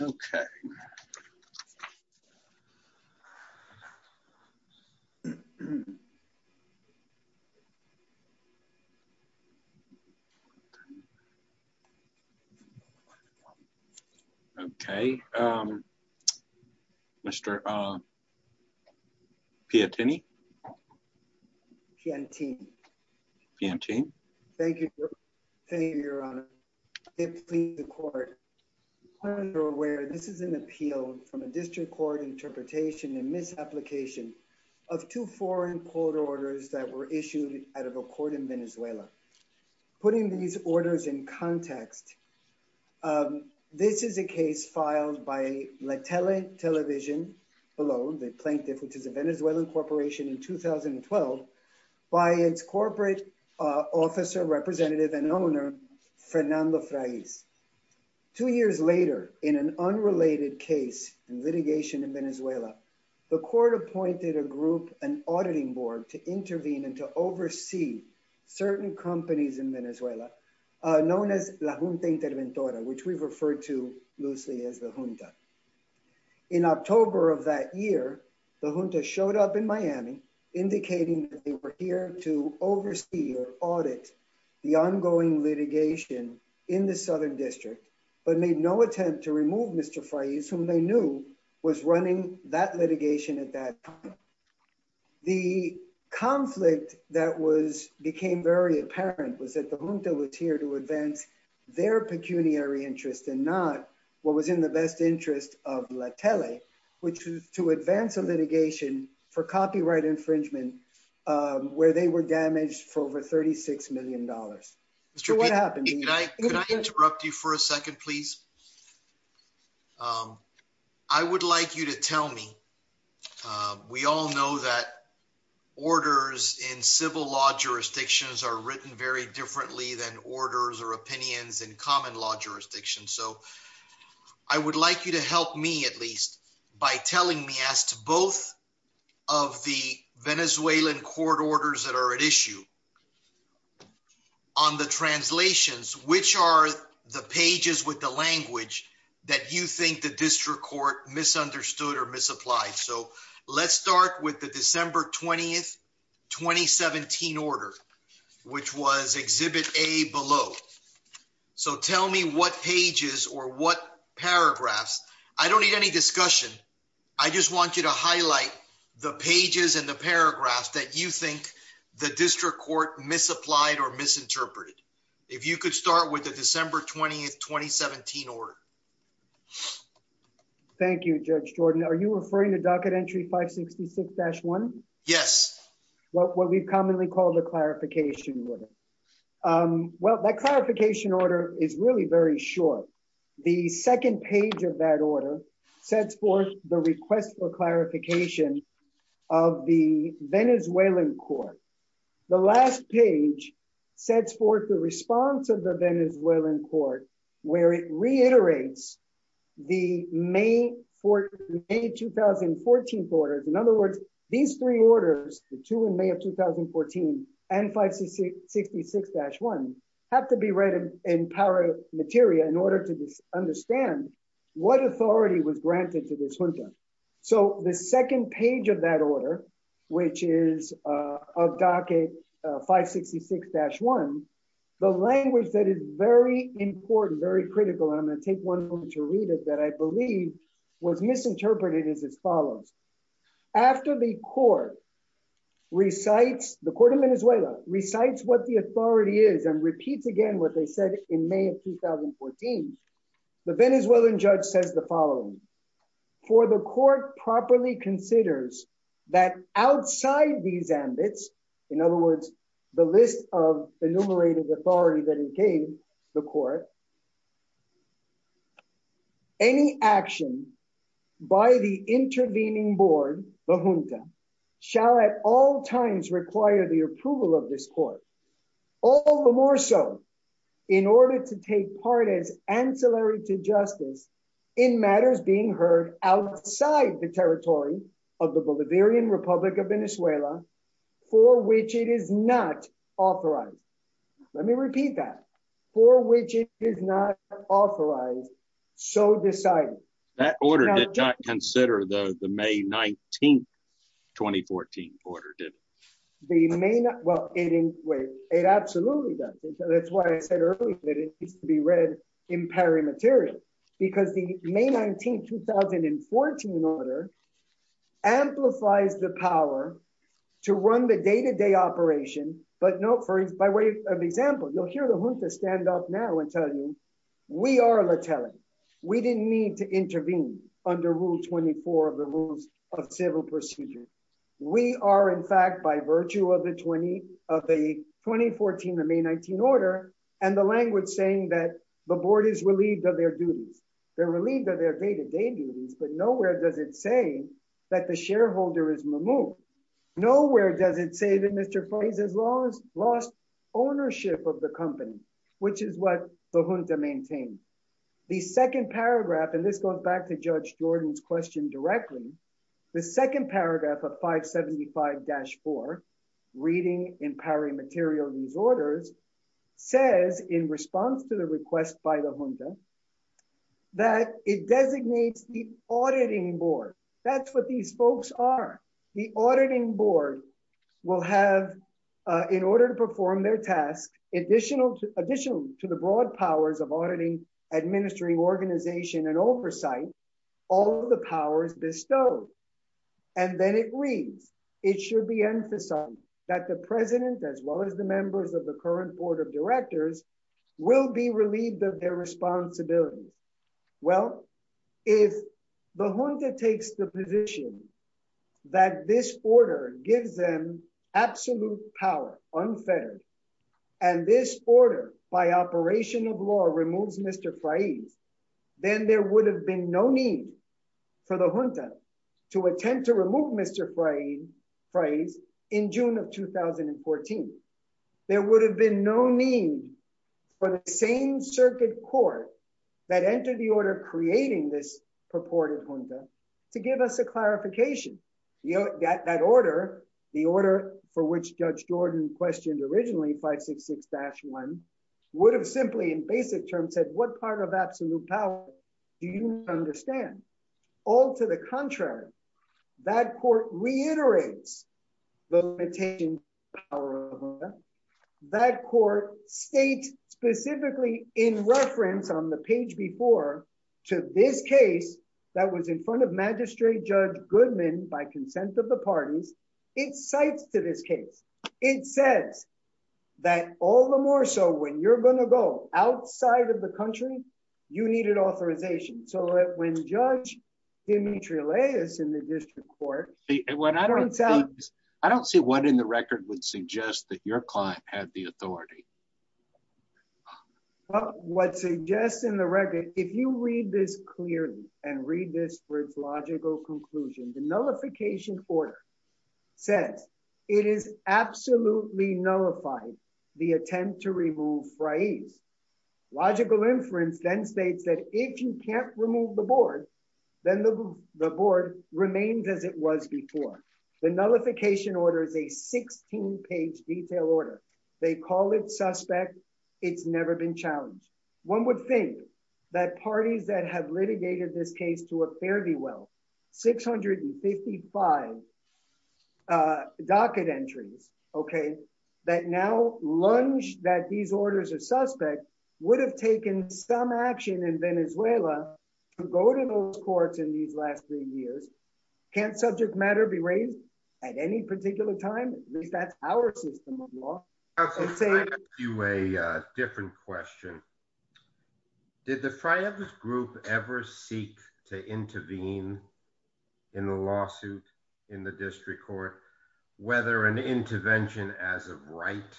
Okay. Okay. Mr. Piantini. Piantini. Piantini. Thank you, your honor. I plead the court where this is an appeal from a district court interpretation and misapplication of two foreign court orders that were issued out of a court in Venezuela. Putting these orders in context, this is a case filed by La Tele Television, below the plaintiff, which is a Venezuelan corporation in 2012, by its corporate officer, representative, and owner, Fernando Frais. Two years later, in an unrelated case, in litigation in Venezuela, the court appointed a group, an auditing board, to intervene and to oversee certain companies in Venezuela, known as La Junta Interventora, which we've referred to loosely as the Junta. In October of that year, the Junta showed up in Miami, indicating that they were here to oversee or audit the ongoing litigation in the Southern District, but made no attempt to remove Mr. Frais, whom they knew was running that litigation at that time. The conflict that became very apparent was that the Junta was here to advance their pecuniary interest and not what was in the best interest of La Tele, which was to advance a infringement where they were damaged for over $36 million. Mr. P, could I interrupt you for a second, please? I would like you to tell me, we all know that orders in civil law jurisdictions are written very differently than orders or opinions in common law jurisdictions, so I would like you to help me, by telling me as to both of the Venezuelan court orders that are at issue on the translations, which are the pages with the language that you think the district court misunderstood or misapplied. Let's start with the December 20th, 2017 order, which was Exhibit A below. So tell me what pages or what paragraphs, I don't need any discussion, I just want you to highlight the pages and the paragraphs that you think the district court misapplied or misinterpreted. If you could start with the December 20th, 2017 order. Thank you, Judge Jordan. Are you referring to Docket Entry 566-1? Yes. What we've commonly called the clarification order. Well, that clarification order is really very short. The second page of that order sets forth the request for clarification of the Venezuelan court. The last page sets forth the response of the Venezuelan court, where it reiterates the May 2014 orders. In other words, these three orders, the two in May of 2014 and 566-1, have to be read in para materia in order to understand what authority was granted to this junta. So the second page of that order, which is of Docket 566-1, the language that is very important, very critical, and I'm going to take one moment to read it, that I believe was misinterpreted is as follows. After the court recites, the court of Venezuela recites what the authority is and repeats again what they said in May of 2014, the Venezuelan judge says the following. For the court properly considers that outside these ambits, in other words, the list of the court, any action by the intervening board, the junta, shall at all times require the approval of this court, all the more so in order to take part as ancillary to justice in matters being heard outside the territory of the Bolivarian Republic of Venezuela for which it is not authorized. Let me repeat that. For which it is not authorized, so decided. That order did not consider the May 19, 2014 order, did it? The May 19, well, it absolutely does. That's why I said earlier that it needs to be read in para materia, because the May 19, 2014 order amplifies the power to run the day-to-day operation. By way of example, you'll hear the junta stand up now and tell you, we are lethality. We didn't need to intervene under Rule 24 of the Rules of Civil Procedure. We are, in fact, by virtue of the 2014, the May 19 order and the language saying that the board is relieved of their duties. They're relieved of their day-to-day duties, but nowhere does it say that the shareholder is removed. Nowhere does it say that Mr. Fries has lost ownership of the company, which is what the junta maintained. The second paragraph, and this goes back to Judge Jordan's question directly, the second paragraph of 575-4, reading in para materia of these orders, says in response to request by the junta, that it designates the auditing board. That's what these folks are. The auditing board will have, in order to perform their tasks, additional to the broad powers of auditing, administering, organization, and oversight, all of the powers bestowed. Then it reads, it should be emphasized that the president, as well as the members of the board of directors, will be relieved of their responsibilities. Well, if the junta takes the position that this order gives them absolute power, unfettered, and this order by operation of law removes Mr. Fries, then there would have been no need for the junta to attempt to remove Mr. Fries in June of 2014. There would have been no need for the same circuit court that entered the order creating this purported junta to give us a clarification. That order, the order for which Judge Jordan questioned originally, 566-1, would have simply in basic terms said, what part of reiterates the limitations of the power of the junta. That court states specifically in reference on the page before to this case that was in front of Magistrate Judge Goodman by consent of the parties, it cites to this case. It says that all the more so when you're going to go outside of authorization. So that when Judge Dimitriles in the district court... I don't see what in the record would suggest that your client had the authority. What suggests in the record, if you read this clearly and read this for its logical conclusion, the nullification order says it is absolutely nullified the attempt to remove Fries. Logical inference then states that if you can't remove the board, then the board remains as it was before. The nullification order is a 16-page detail order. They call it suspect. It's never been challenged. One would think that parties that have litigated this case to a fairly well 655 docket entries that now lunge that these orders are suspect would have taken some action in Venezuela to go to those courts in these last three years. Can't subject matter be raised at any particular time? At least that's our system of law. I'll ask you a different question. Did the Fries group ever seek to intervene in the lawsuit in the district court, whether an intervention as a right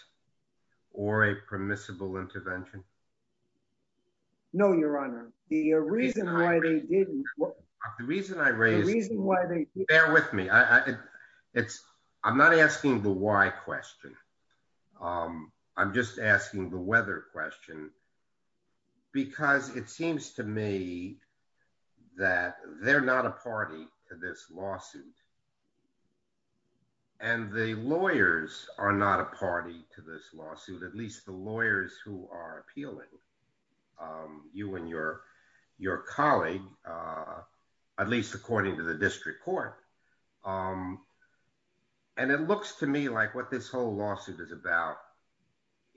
or a permissible intervention? No, your honor. The reason why they didn't... The reason I raised... The reason why they didn't... Bear with me. I'm not asking the why question. I'm just asking the whether question. Because it seems to me that they're not a party to this lawsuit. And the lawyers are not a party to this lawsuit, at least the lawyers who are appealing, you and your colleague, at least according to the district court. And it looks to me like what this whole lawsuit is about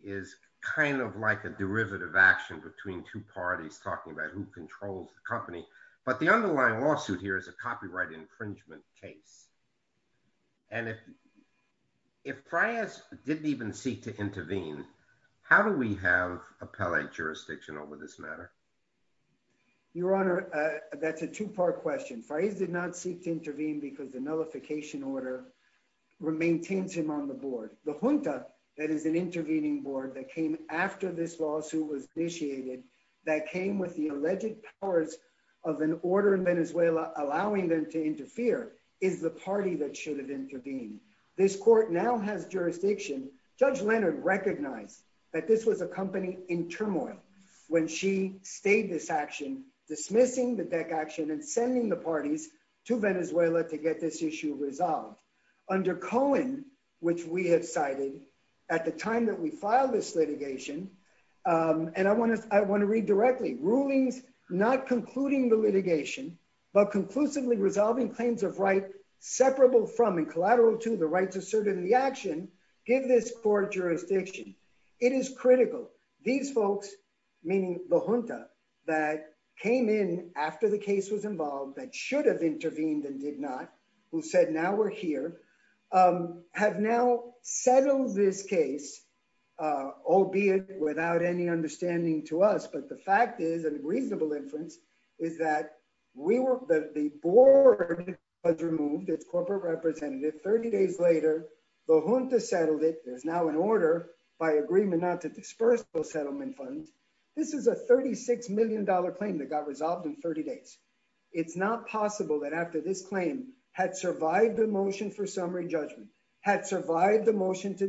is kind of like a derivative action between two parties talking about who controls the company. But the underlying lawsuit here is a copyright infringement case. And if Fries didn't even seek to intervene, how do we have appellate jurisdiction over this matter? Your honor, that's a two-part question. Fries did not seek to intervene because the nullification order maintains him on the board. The Junta, that is an intervening board that came after this lawsuit was initiated, that came with the alleged powers of an order in Venezuela allowing them to interfere is the party that should have intervened. This court now has jurisdiction. Judge Leonard recognized that this was a company in turmoil when she stayed this action, dismissing the DEC action and sending the parties to Venezuela to get this issue resolved. Under Cohen, which we have cited at the time that we filed this litigation, and I want to read directly, rulings not concluding the litigation, but conclusively resolving claims of right separable from and collateral to the rights asserted in the action, give this court jurisdiction. It is critical. These folks, meaning the Junta that came in after the case was involved, that should have intervened and did not, who said now we're here, have now settled this case, albeit without any understanding to us. But the fact is, the reasonable inference is that the board was removed, its corporate representative, 30 days later, the Junta settled it. There's now an order by agreement not to disperse those settlement funds. This is a $36 million claim that got resolved in 30 days. It's not possible that after this claim had survived the motion for summary judgment, had survived the motion to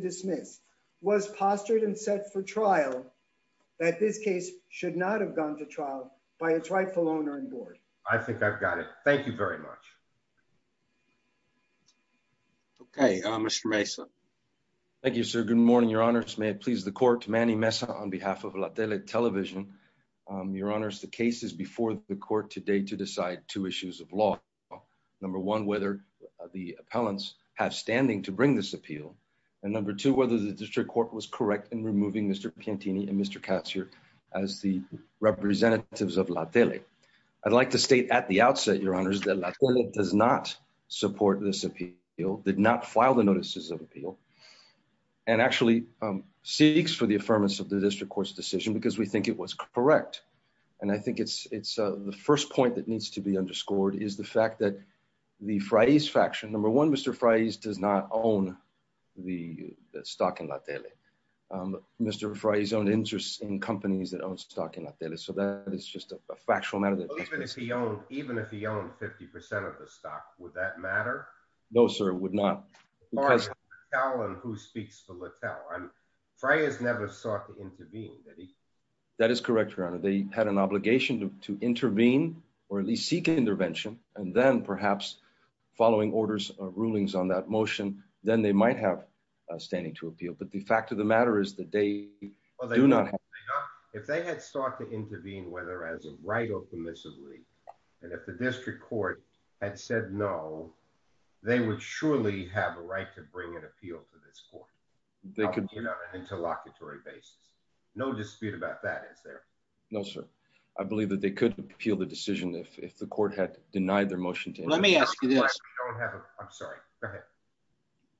its rightful owner and board. I think I've got it. Thank you very much. Okay, Mr. Mesa. Thank you, sir. Good morning, your honors. May it please the court, Manny Mesa on behalf of La Tele Television. Your honors, the case is before the court today to decide two issues of law. Number one, whether the appellants have standing to bring this appeal. And number two, whether the district court was correct in removing Mr. Piantini and Mr. Katz here as the representatives of La Tele. I'd like to state at the outset, your honors, that La Tele does not support this appeal, did not file the notices of appeal, and actually seeks for the affirmance of the district court's decision because we think it was correct. And I think it's the first point that needs to be underscored is the fact that the Fries faction, number one, does not own the stock in La Tele. Mr. Frye's own interest in companies that own stock in La Tele. So that is just a factual matter. Even if he owned 50% of the stock, would that matter? No, sir, it would not. Who speaks to La Tele? Frye has never sought to intervene. That is correct, your honor. They had an obligation to intervene or at least seek intervention. And then perhaps following orders or rulings on that motion, then they might have standing to appeal. But the fact of the matter is that they do not. If they had sought to intervene, whether as a right or permissibly, and if the district court had said no, they would surely have a right to bring an appeal to this court. They could be on an interlocutory basis. No dispute about that, is there? No, sir. I believe that they could appeal the decision if the court had denied their motion. Let me ask you this. I'm sorry. Go ahead.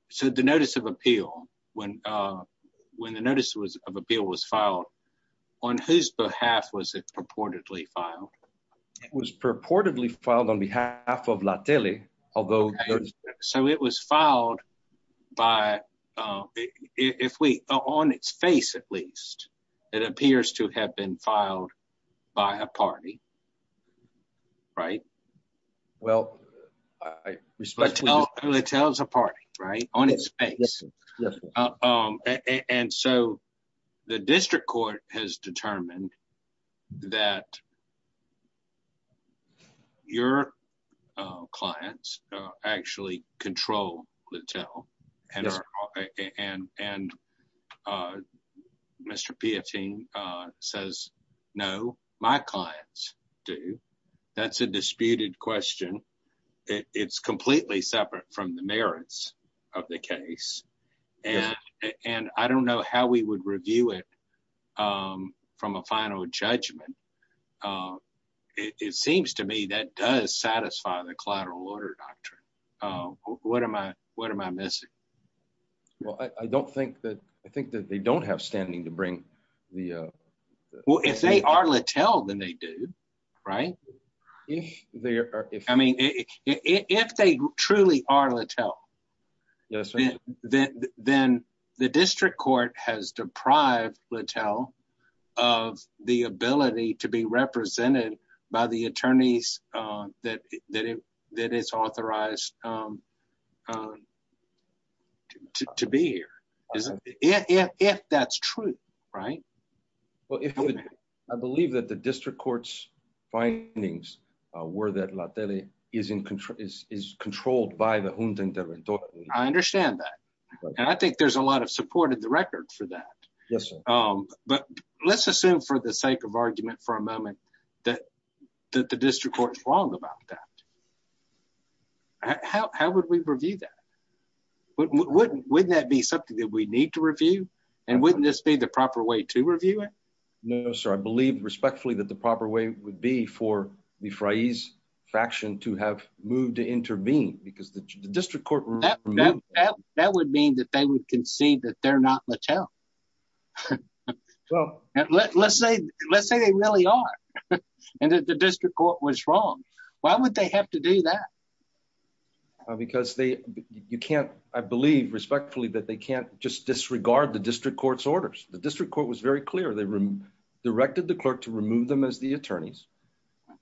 So the notice of appeal, when the notice of appeal was filed, on whose behalf was it purportedly filed? It was purportedly filed on behalf of La Tele, although... So it was filed by, if we, on its face at least, it appears to have been filed by a party, right? Well... La Tele's a party, right? On its face. And so the district court has determined that your clients actually control La Tele, and Mr. Piotin says, no, my clients do. That's a disputed question. It's completely separate from the merits of the case, and I don't know how we would review it from a final judgment. It seems to me that does satisfy the collateral order doctrine. What am I missing? Well, I think that they don't have standing to bring the... Well, if they are La Tele, then they do, right? If they are. I mean, if they truly are La Tele, then the district court has deprived La Tele of the ability to be represented by the attorneys that it's authorized to be here. If that's true, right? Well, I believe that the district court's findings were that La Tele is controlled by the junta interventor. I understand that. And I think there's a lot of support in the record for that. Yes, sir. But let's assume for the sake of argument for a moment that the district court is wrong about that. How would we review that? Wouldn't that be something that we need to review? And wouldn't this be the proper way to review it? No, sir. I believe respectfully that the proper way would be for the Friese faction to have moved to intervene because the district court... That would mean that they would concede that they're not La Tele. Let's say they really are and that the district court was wrong. Why would they have to do that? Because you can't... I believe respectfully that they can't just disregard the district court's orders. The district court was very clear. They directed the clerk to remove them as the attorneys.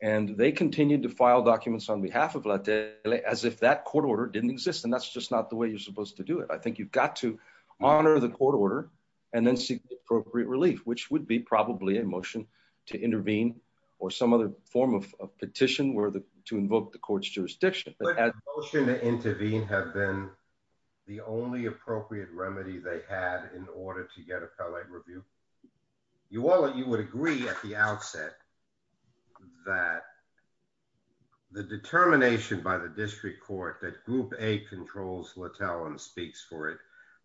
And they continued to file documents on behalf of La Tele as if that court order didn't exist. And that's just not the way you're supposed to do it. I think you've got to honor the court order and then seek the appropriate relief, which would be probably a motion to intervene or some other form of petition to invoke the court's jurisdiction. Would a motion to intervene have been the only appropriate remedy they had in order to get appellate review? You would agree at the outset that the determination by the district court that Group A controls La Tele and speaks for it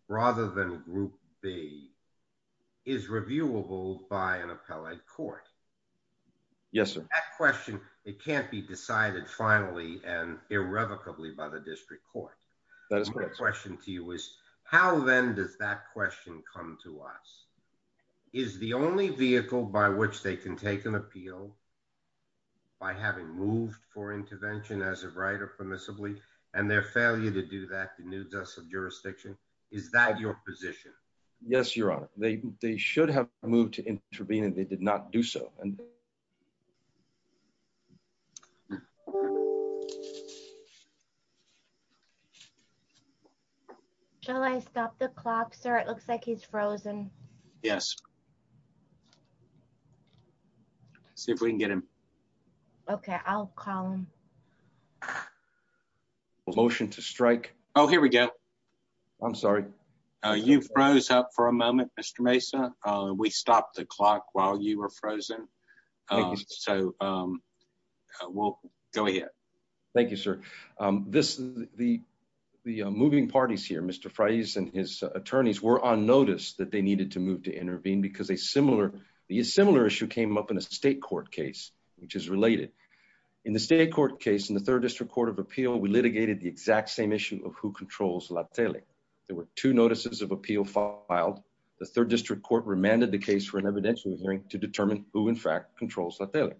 rather than Group B is reviewable by an appellate court. Yes, sir. That question, it can't be decided finally and irrevocably by the district court. That is correct. My question to you is how then does that question come to us? Is the only vehicle by which they can take an appeal by having moved for intervention as of right or permissibly, and their failure to do that denudes us of jurisdiction? Is that your position? Yes, they should have moved to intervene and they did not do so. Shall I stop the clock, sir? It looks like he's frozen. Yes. See if we can get him. Okay, I'll call him. Motion to strike. Oh, here we go. I'm sorry. You froze up for a moment, Mr. Mesa. We stopped the clock while you were frozen. So we'll go ahead. Thank you, sir. This is the moving parties here, Mr. Fries and his attorneys were on notice that they needed to move to intervene because a similar issue came up in a state court case, which is related. In the state court case, in the third district court of appeal, we litigated the exact same issue of who controls la tele. There were two notices of appeal filed. The third district court remanded the case for an evidential hearing to determine who in fact controls la tele.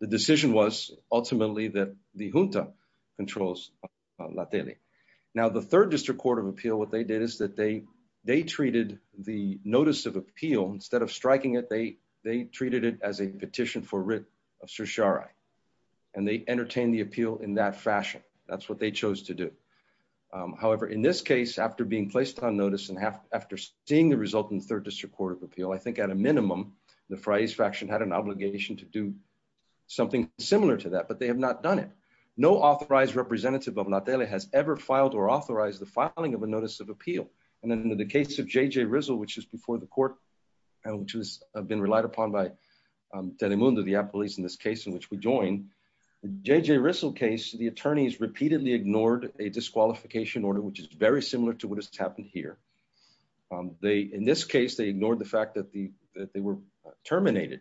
The decision was ultimately that the junta controls la tele. Now the third district court of appeal, what they did is that they treated the notice of appeal, instead of striking it, they treated it as a petition for writ of certiorari. And they entertained the appeal in that fashion. That's what they chose to do. However, in this case, after being placed on notice and after seeing the result in the third district court of appeal, I think at a minimum, the phrase faction had an obligation to do something similar to that, but they have not done it. No authorized representative of la tele has ever filed or authorized the filing of a notice of appeal. And then in the case of JJ Rizzo, which is before the court, which has been relied upon by tele mundo, the police in this case in which we join, JJ Rizzo case, the attorneys repeatedly ignored a disqualification order, which is very similar to what has happened here. They, in this case, they ignored the fact that the, that they were terminated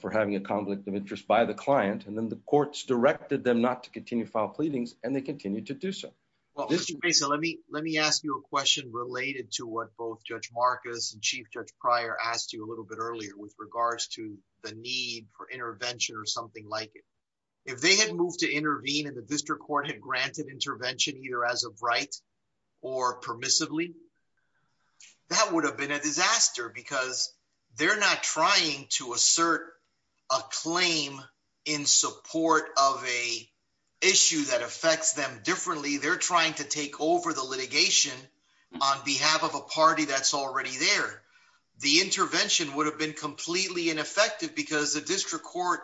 for having a conflict of interest by the client. And then the courts directed them not to continue file pleadings and they continue to do so. Well, let me, let me ask you a question related to what both judge Marcus and chief judge prior asked you a little bit earlier with regards to the need for intervention or something like it. If they had moved to intervene and the district court had granted intervention either as a bright or permissively, that would have been a disaster because they're not trying to assert a claim in support of a issue that affects them differently. They're trying to take over the litigation on behalf of a party that's already there. The intervention would have been completely ineffective because the district court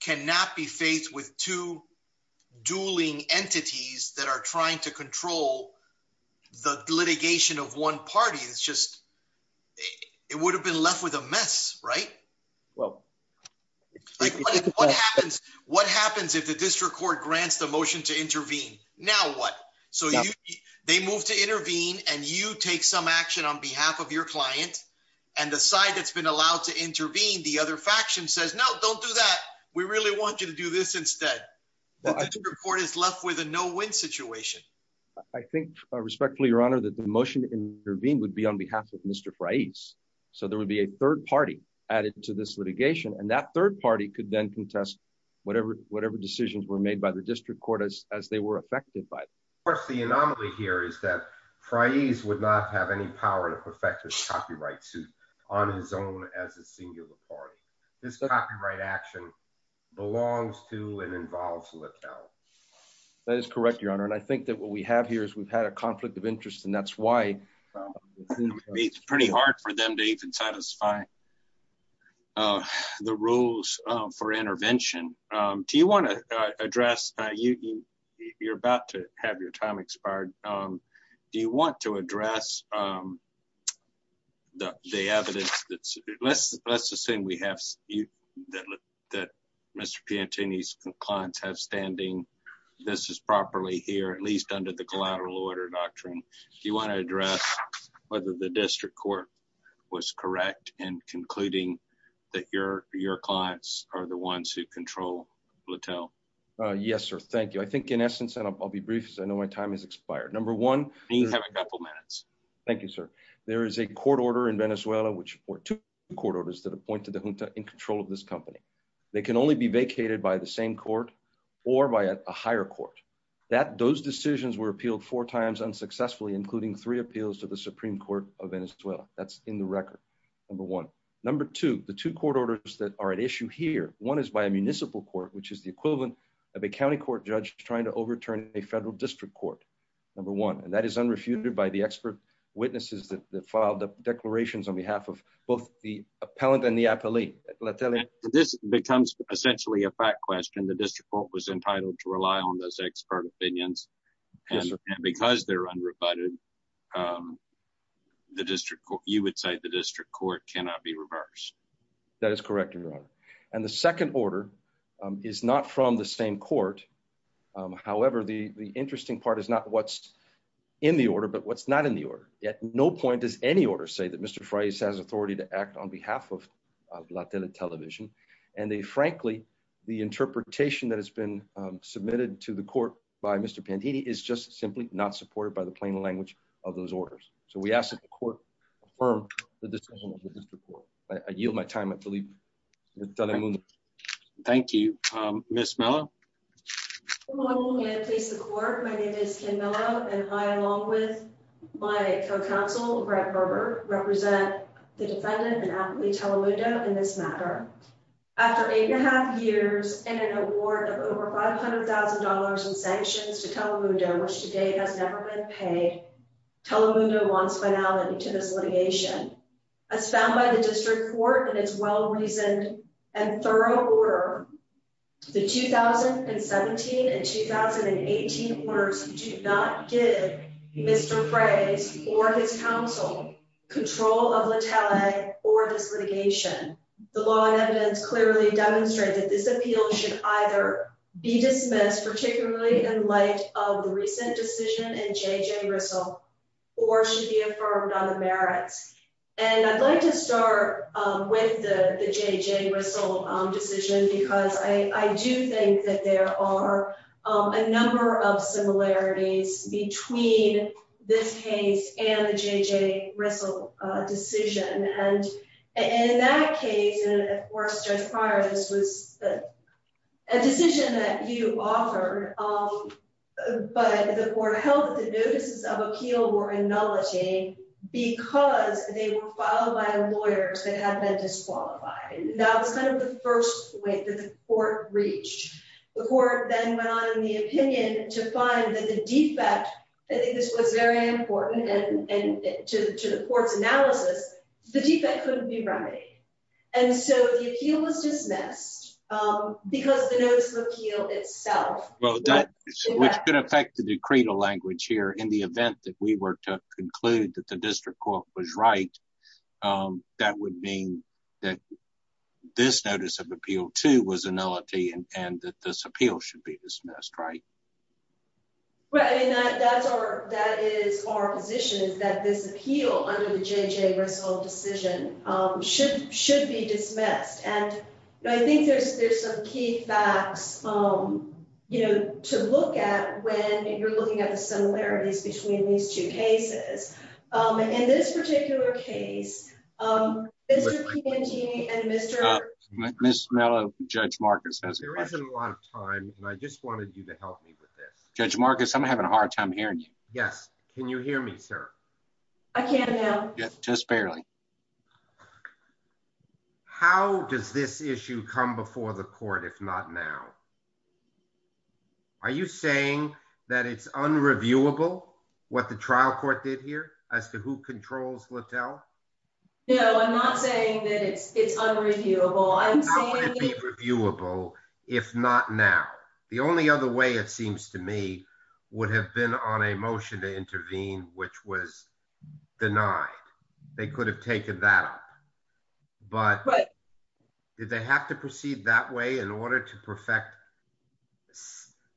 cannot be faced with two dueling entities that are trying to control the litigation of one party. It's just, it would have been left with a mess, right? Well, what happens, what happens if the district court grants the motion to intervene now? What? So they moved to intervene and you take some action on behalf of your client and the side that's been allowed to intervene. The other faction says, no, don't do that. We really want you to do this instead. The court is left with a no win situation. I think respectfully, your honor, that the motion to intervene would be on behalf of Mr. Fries. So there would be a third party added to this litigation. And that third party could then contest whatever, whatever decisions were made by the district court as, as they were affected by it. Of course, the anomaly here is that Fries would not have any power to perfect his copyright suit on his own as a singular party. This copyright action belongs to and involves Letel. That is correct, your honor. And I think that what we have here is we've had a conflict of interest and that's why it's pretty hard for them to even satisfy the rules for you're about to have your time expired. Um, do you want to address, um, the, the evidence that's, let's, let's assume we have you that, that Mr. Pantini's clients have standing. This is properly here, at least under the collateral order doctrine. Do you want to address whether the district court was correct in concluding that your, your clients are the I'll be brief as I know my time has expired. Number one, thank you, sir. There is a court order in Venezuela, which were two court orders that appointed the junta in control of this company. They can only be vacated by the same court or by a higher court that those decisions were appealed four times unsuccessfully, including three appeals to the Supreme court of Venezuela. That's in the record. Number one, number two, the two court orders that are at issue here. One is by a municipal court, which is the equivalent of a County court judge trying to overturn a federal district court. Number one, and that is unrefuted by the expert witnesses that filed up declarations on behalf of both the appellant and the appellee. Let's tell him this becomes essentially a fact question. The district court was entitled to rely on those expert opinions because they're unrebutted. Um, the district court, you would say the district court cannot be reversed. That is correct, your honor. And the second order, um, is not from the same court. Um, however, the, the interesting part is not what's in the order, but what's not in the order yet. No point is any order say that Mr. Fry's has authority to act on behalf of Latina television. And they, frankly, the interpretation that has been, um, submitted to the court by Mr. Pantini is just simply not supported by the plain language of those orders. So we ask that the court affirm the decision of the district court. I yield my time. I believe thank you. Um, Ms. Mello, please the court. My name is Kim Mello and I, along with my co-counsel Brett Berber represent the defendant and athlete Telemundo in this matter after eight and a half years and an award of over $500,000 in sanctions to Telemundo, which today has never been paid. Telemundo wants finality to this litigation as found by the district court and it's well reasoned and thorough order the 2017 and 2018 orders do not give Mr. Fray's or his counsel control of Latale or this litigation. The law and evidence clearly demonstrated that this appeal should either be dismissed, particularly in light of the recent decision and J.J. Rissle or should be affirmed on the merits. And I'd like to start with the J.J. Rissle decision because I do think that there are a number of similarities between this case and the J.J. Rissle decision. And in that case, and of course, Judge Pryor, this was a decision that you offered, but the court held that the notices of appeal were acknowledging because they were filed by lawyers that have been disqualified. Now it's kind of the first way that the court reached. The court then went on in the opinion to find that the defect, I think this was very important and to the court's analysis, the defect couldn't be remedied. And so the appeal was dismissed because of the notice of appeal itself. Well, that which could affect the decree to language here in the event that we were to conclude that the district court was right, that would mean that this notice of appeal too was a nullity and that this appeal should be dismissed, right? Right. And that's our, that is our position is that this appeal under the J.J. Rissle decision should be dismissed. And I think there's some key facts, you know, to look at when you're looking at the similarities between these two cases. In this particular case, Judge Marcus, I'm having a hard time hearing you. Can you hear me, sir? I can now. Yes, just barely. How does this issue come before the court if not now? Are you saying that it's unreviewable what the trial court did here as to who controls Littell? No, I'm not saying that it's unreviewable. How would it be reviewable if not now? The only other it seems to me would have been on a motion to intervene, which was denied. They could have taken that up. But did they have to proceed that way in order to perfect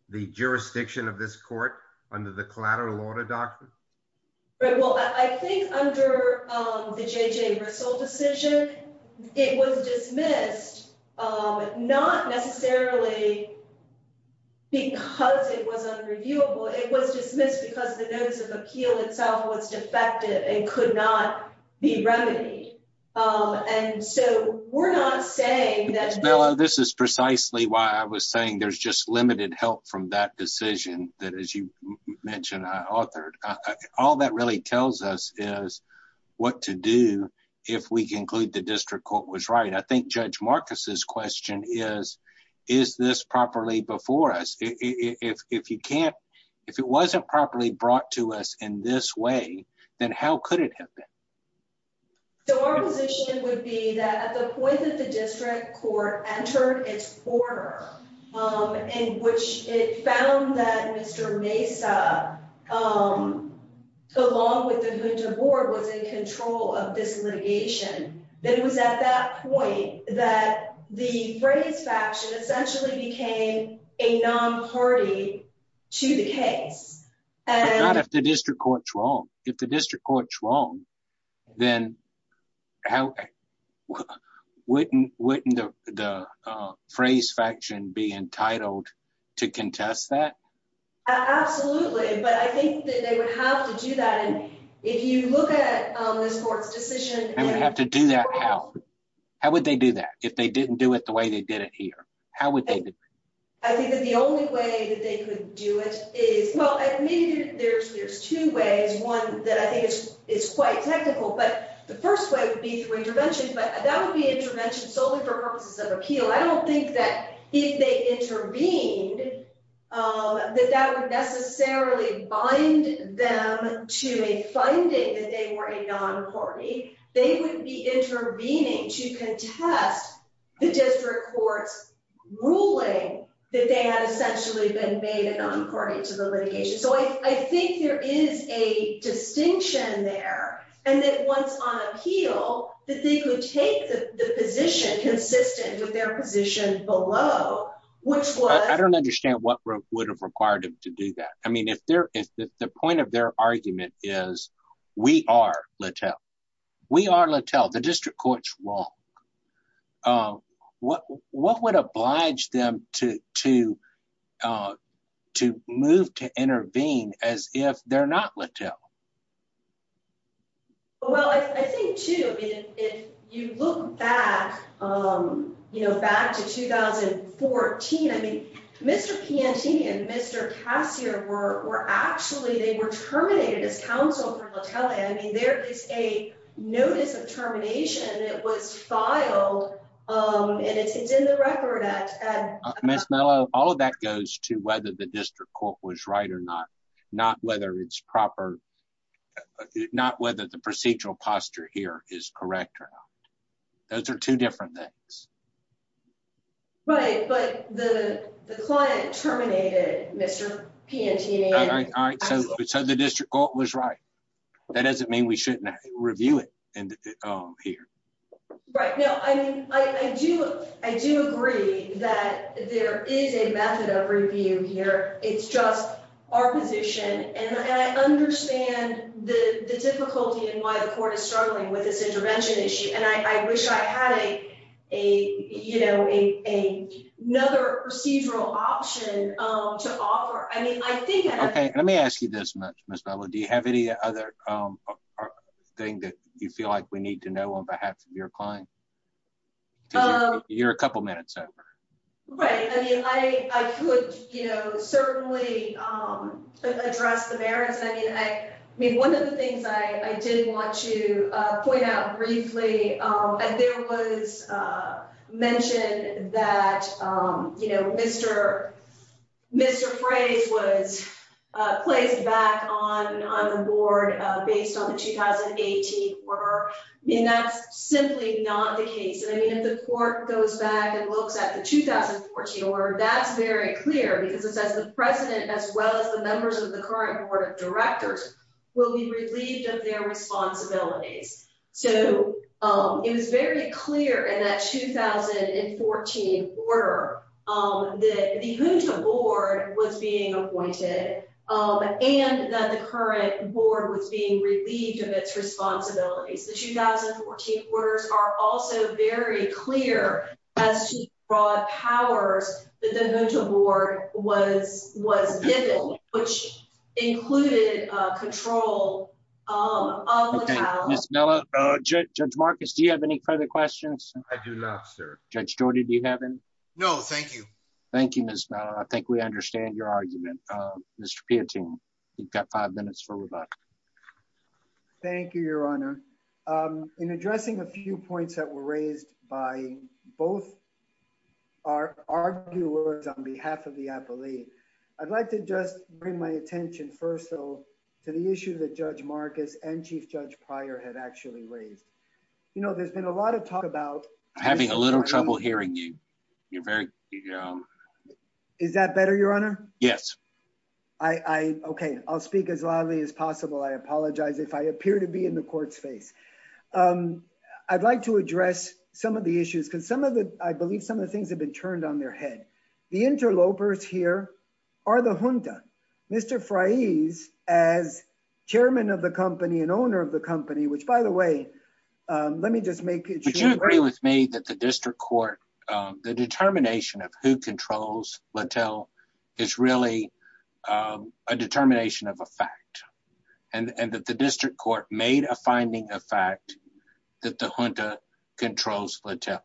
the jurisdiction of this court under the collateral order document? Well, I think under the J.J. Rissle decision, it was dismissed not necessarily because it was unreviewable. It was dismissed because the notice of appeal itself was defective and could not be remedied. And so we're not saying that this is precisely why I was saying there's just limited help from that decision that, as you mentioned, I authored. All that really tells us is what to do if we conclude the district court was right. I think Judge Marcus's question is, is this properly before us? If it wasn't properly brought to us in this way, then how could it have been? So our position would be that at the point the district court entered its order, in which it found that Mr. Mesa, along with the Junta Board, was in control of this litigation, that it was at that point that the Fray's faction essentially became a non-party to the case. But not if the district court's wrong. If the district court's wrong, wouldn't the Fray's faction be entitled to contest that? Absolutely, but I think that they would have to do that. And if you look at this court's decision... They would have to do that how? How would they do that if they didn't do it the way they did it here? How would they do it? I think that the only way that they could do it is... Well, maybe there's two ways. One that I think is quite technical, but the first way would be through intervention. But that would be intervention solely for purposes of appeal. I don't think that if they intervened, that that would necessarily bind them to a finding that they were a non-party. They wouldn't be intervening to contest the district court's ruling that they had essentially been made a non-party to the litigation. So I think there is a distinction there. And that once on appeal, that they could take the position consistent with their position below, which was... I don't understand what would have required them to do that. I mean, if the point of their argument is, we are Latell, we are Latell, the district court's wrong. What would oblige them to move to intervene as if they're not Latell? Well, I think too, if you look back to 2014, I mean, Mr. Piantini and Mr. Cassier were actually, they were terminated as counsel for Latell. I mean, there is a notice of termination that was filed. And it's in the record at... Ms. Mello, all of that goes to whether the district court was right or not, not whether it's proper, not whether the procedural posture here is correct Those are two different things. Right. But the client terminated Mr. Piantini. All right. So the district court was right. That doesn't mean we shouldn't review it here. Right. No, I mean, I do agree that there is a method of review here. It's just our position. And I understand the difficulty and why the court is struggling with this intervention issue. And I wish I had another procedural option to offer. I mean, I think... Okay. Let me ask you this, Ms. Mello. Do you have any other thing that you feel like we need to know on behalf of your client? You're a couple of minutes over. Right. I mean, I could certainly address the merits. I mean, one of the things I did want to point out briefly, there was mention that Mr. Frey's was placed back on the board based on the 2018 order. I mean, that's simply not the case. I mean, if the court goes back and looks at the 2014 order, that's very clear because it says the president as well as the members of the current board of directors will be relieved of their responsibilities. So it was very clear in that 2014 order that the Junta board was being appointed and that the current board was being relieved of its responsibilities. The 2014 orders are also very clear as to broad powers that the Junta board was given, which included control of the power. Ms. Mello, Judge Marcus, do you have any further questions? I do not, sir. Judge Jordy, do you have any? No, thank you. Thank you, Ms. Mello. I think we understand your argument, Mr. Piatin. You've got five minutes for rebuttal. Thank you, Your Honor. In addressing a few points that were raised by both our arguers on behalf of the appellee, I'd like to just bring my attention first to the issue that Judge Marcus and Chief Judge Pryor had actually raised. You know, there's been a lot of talk about- I'm having a little trouble hearing you. You're very- Is that better, Your Honor? Yes. I, okay, I'll speak as loudly as possible. I apologize if I appear to be in the court's face. I'd like to address some of the issues because some of the- I believe some of the things have been turned on their head. The interlopers here are the Junta. Mr. Fraiz, as chairman of the company and owner of the company, which by the way, let me just make it- Would you agree with me that the district court, the determination of who controls Littell is really a determination of a fact and that the district court made a finding of fact that the Junta controls Littell.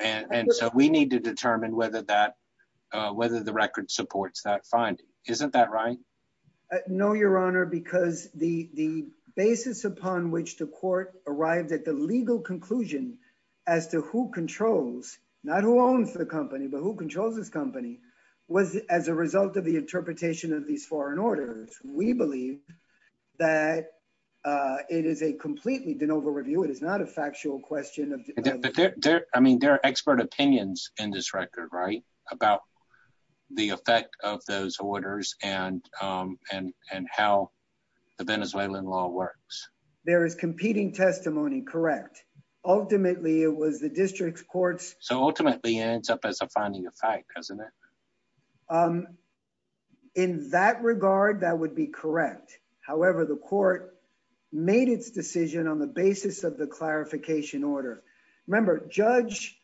And so we need to determine whether that- whether the record supports that finding. Isn't that right? No, Your Honor, because the basis upon which the court arrived at the legal conclusion as to who controls, not who owns the company, but who controls this company was as a result of the interpretation of these foreign orders. We believe that it is a completely de novo review. It is not a factual question of- I mean, there are expert opinions in this record, right? About the effect of those orders and how the Venezuelan law works. There is competing testimony, correct. Ultimately, it was the district court's- So ultimately, it ends up as a finding of fact, doesn't it? In that regard, that would be correct. However, the court made its decision on the basis of the clarification order. Remember, Judge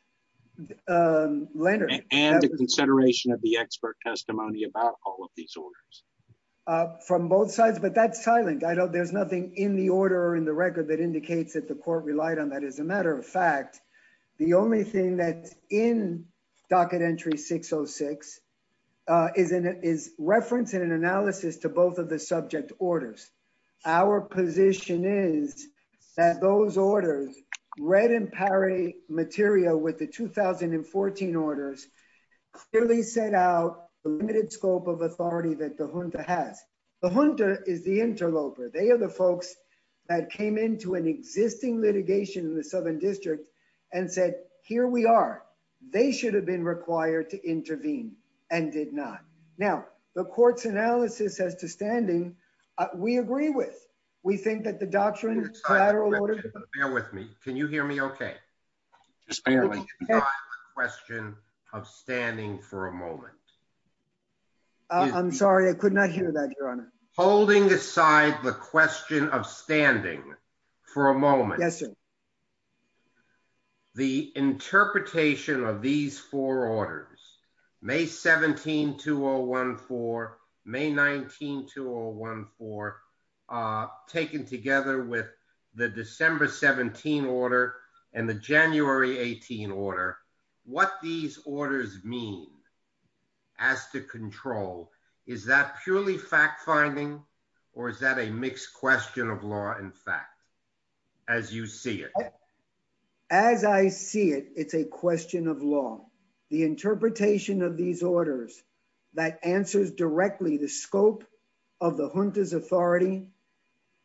Leonard- And the consideration of the expert testimony about all of these orders. From both sides, but that's silent. I don't- there's nothing in the order or in the record that indicates that the court relied on that. As a matter of fact, the only thing that's in Docket Entry 606 is reference and an analysis to both of the subject orders. Our position is that those orders, read in pari materia with the 2014 orders, clearly set out a limited scope of authority that the Junta has. The Junta is the interloper. They are the folks that came into an existing litigation in the Southern District and said, here we are. They should have been required to intervene and did not. Now, the court's analysis as to standing, we agree with. We think that the doctrine- Bear with me. Can you hear me? Okay. Question of standing for a moment. I'm sorry, I could not hear that, Your Honor. Holding aside the question of standing for a moment. Yes, sir. The interpretation of these four orders, May 17, 2014, May 19, 2014, are taken together with the December 17 order and the January 18 order. What these orders mean as to control, is that purely fact-finding, or is that a mixed question of law and fact, as you see it? As I see it, it's a question of law. The interpretation of these orders that answers directly the scope of the Junta's authority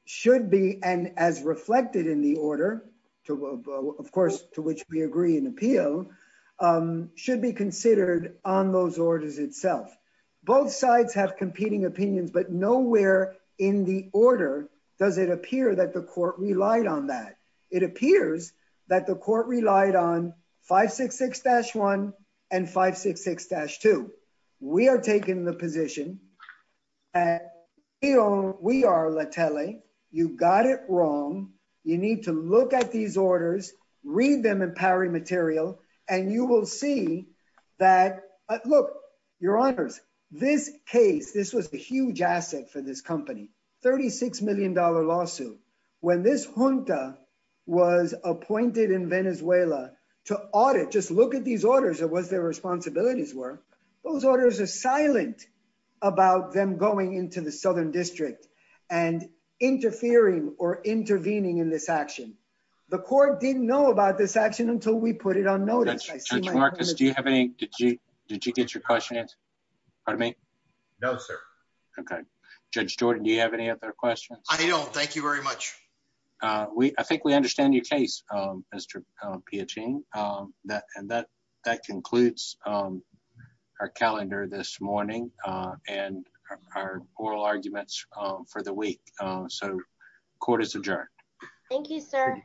should be, and as reflected in the order, of course, to which we agree in appeal, should be considered on those orders itself. Both sides have competing opinions, but nowhere in the order does it appear that the court relied on that. It appears that the court relied on 566-1 and 566-2. We are taking the position, and we are Letele. You got it wrong. You need to look at these orders, read them in powering material, and you will see that- Look, Your Honors, this case, this was a huge asset for this company, $36 million lawsuit. When this Junta was appointed in Venezuela to audit, just look at these orders and what their responsibilities were, those orders are silent about them going into the Southern District and interfering or intervening in this action. The court didn't know about this action until we put it on notice. Judge Marcus, did you get your question answered? Pardon me? No, sir. Okay. Judge Jordan, do you have any other questions? I don't. Thank you very much. I think we understand your case, Mr. Piacin, and that concludes our calendar this morning and our oral arguments for the week, so court is adjourned. Thank you, sir.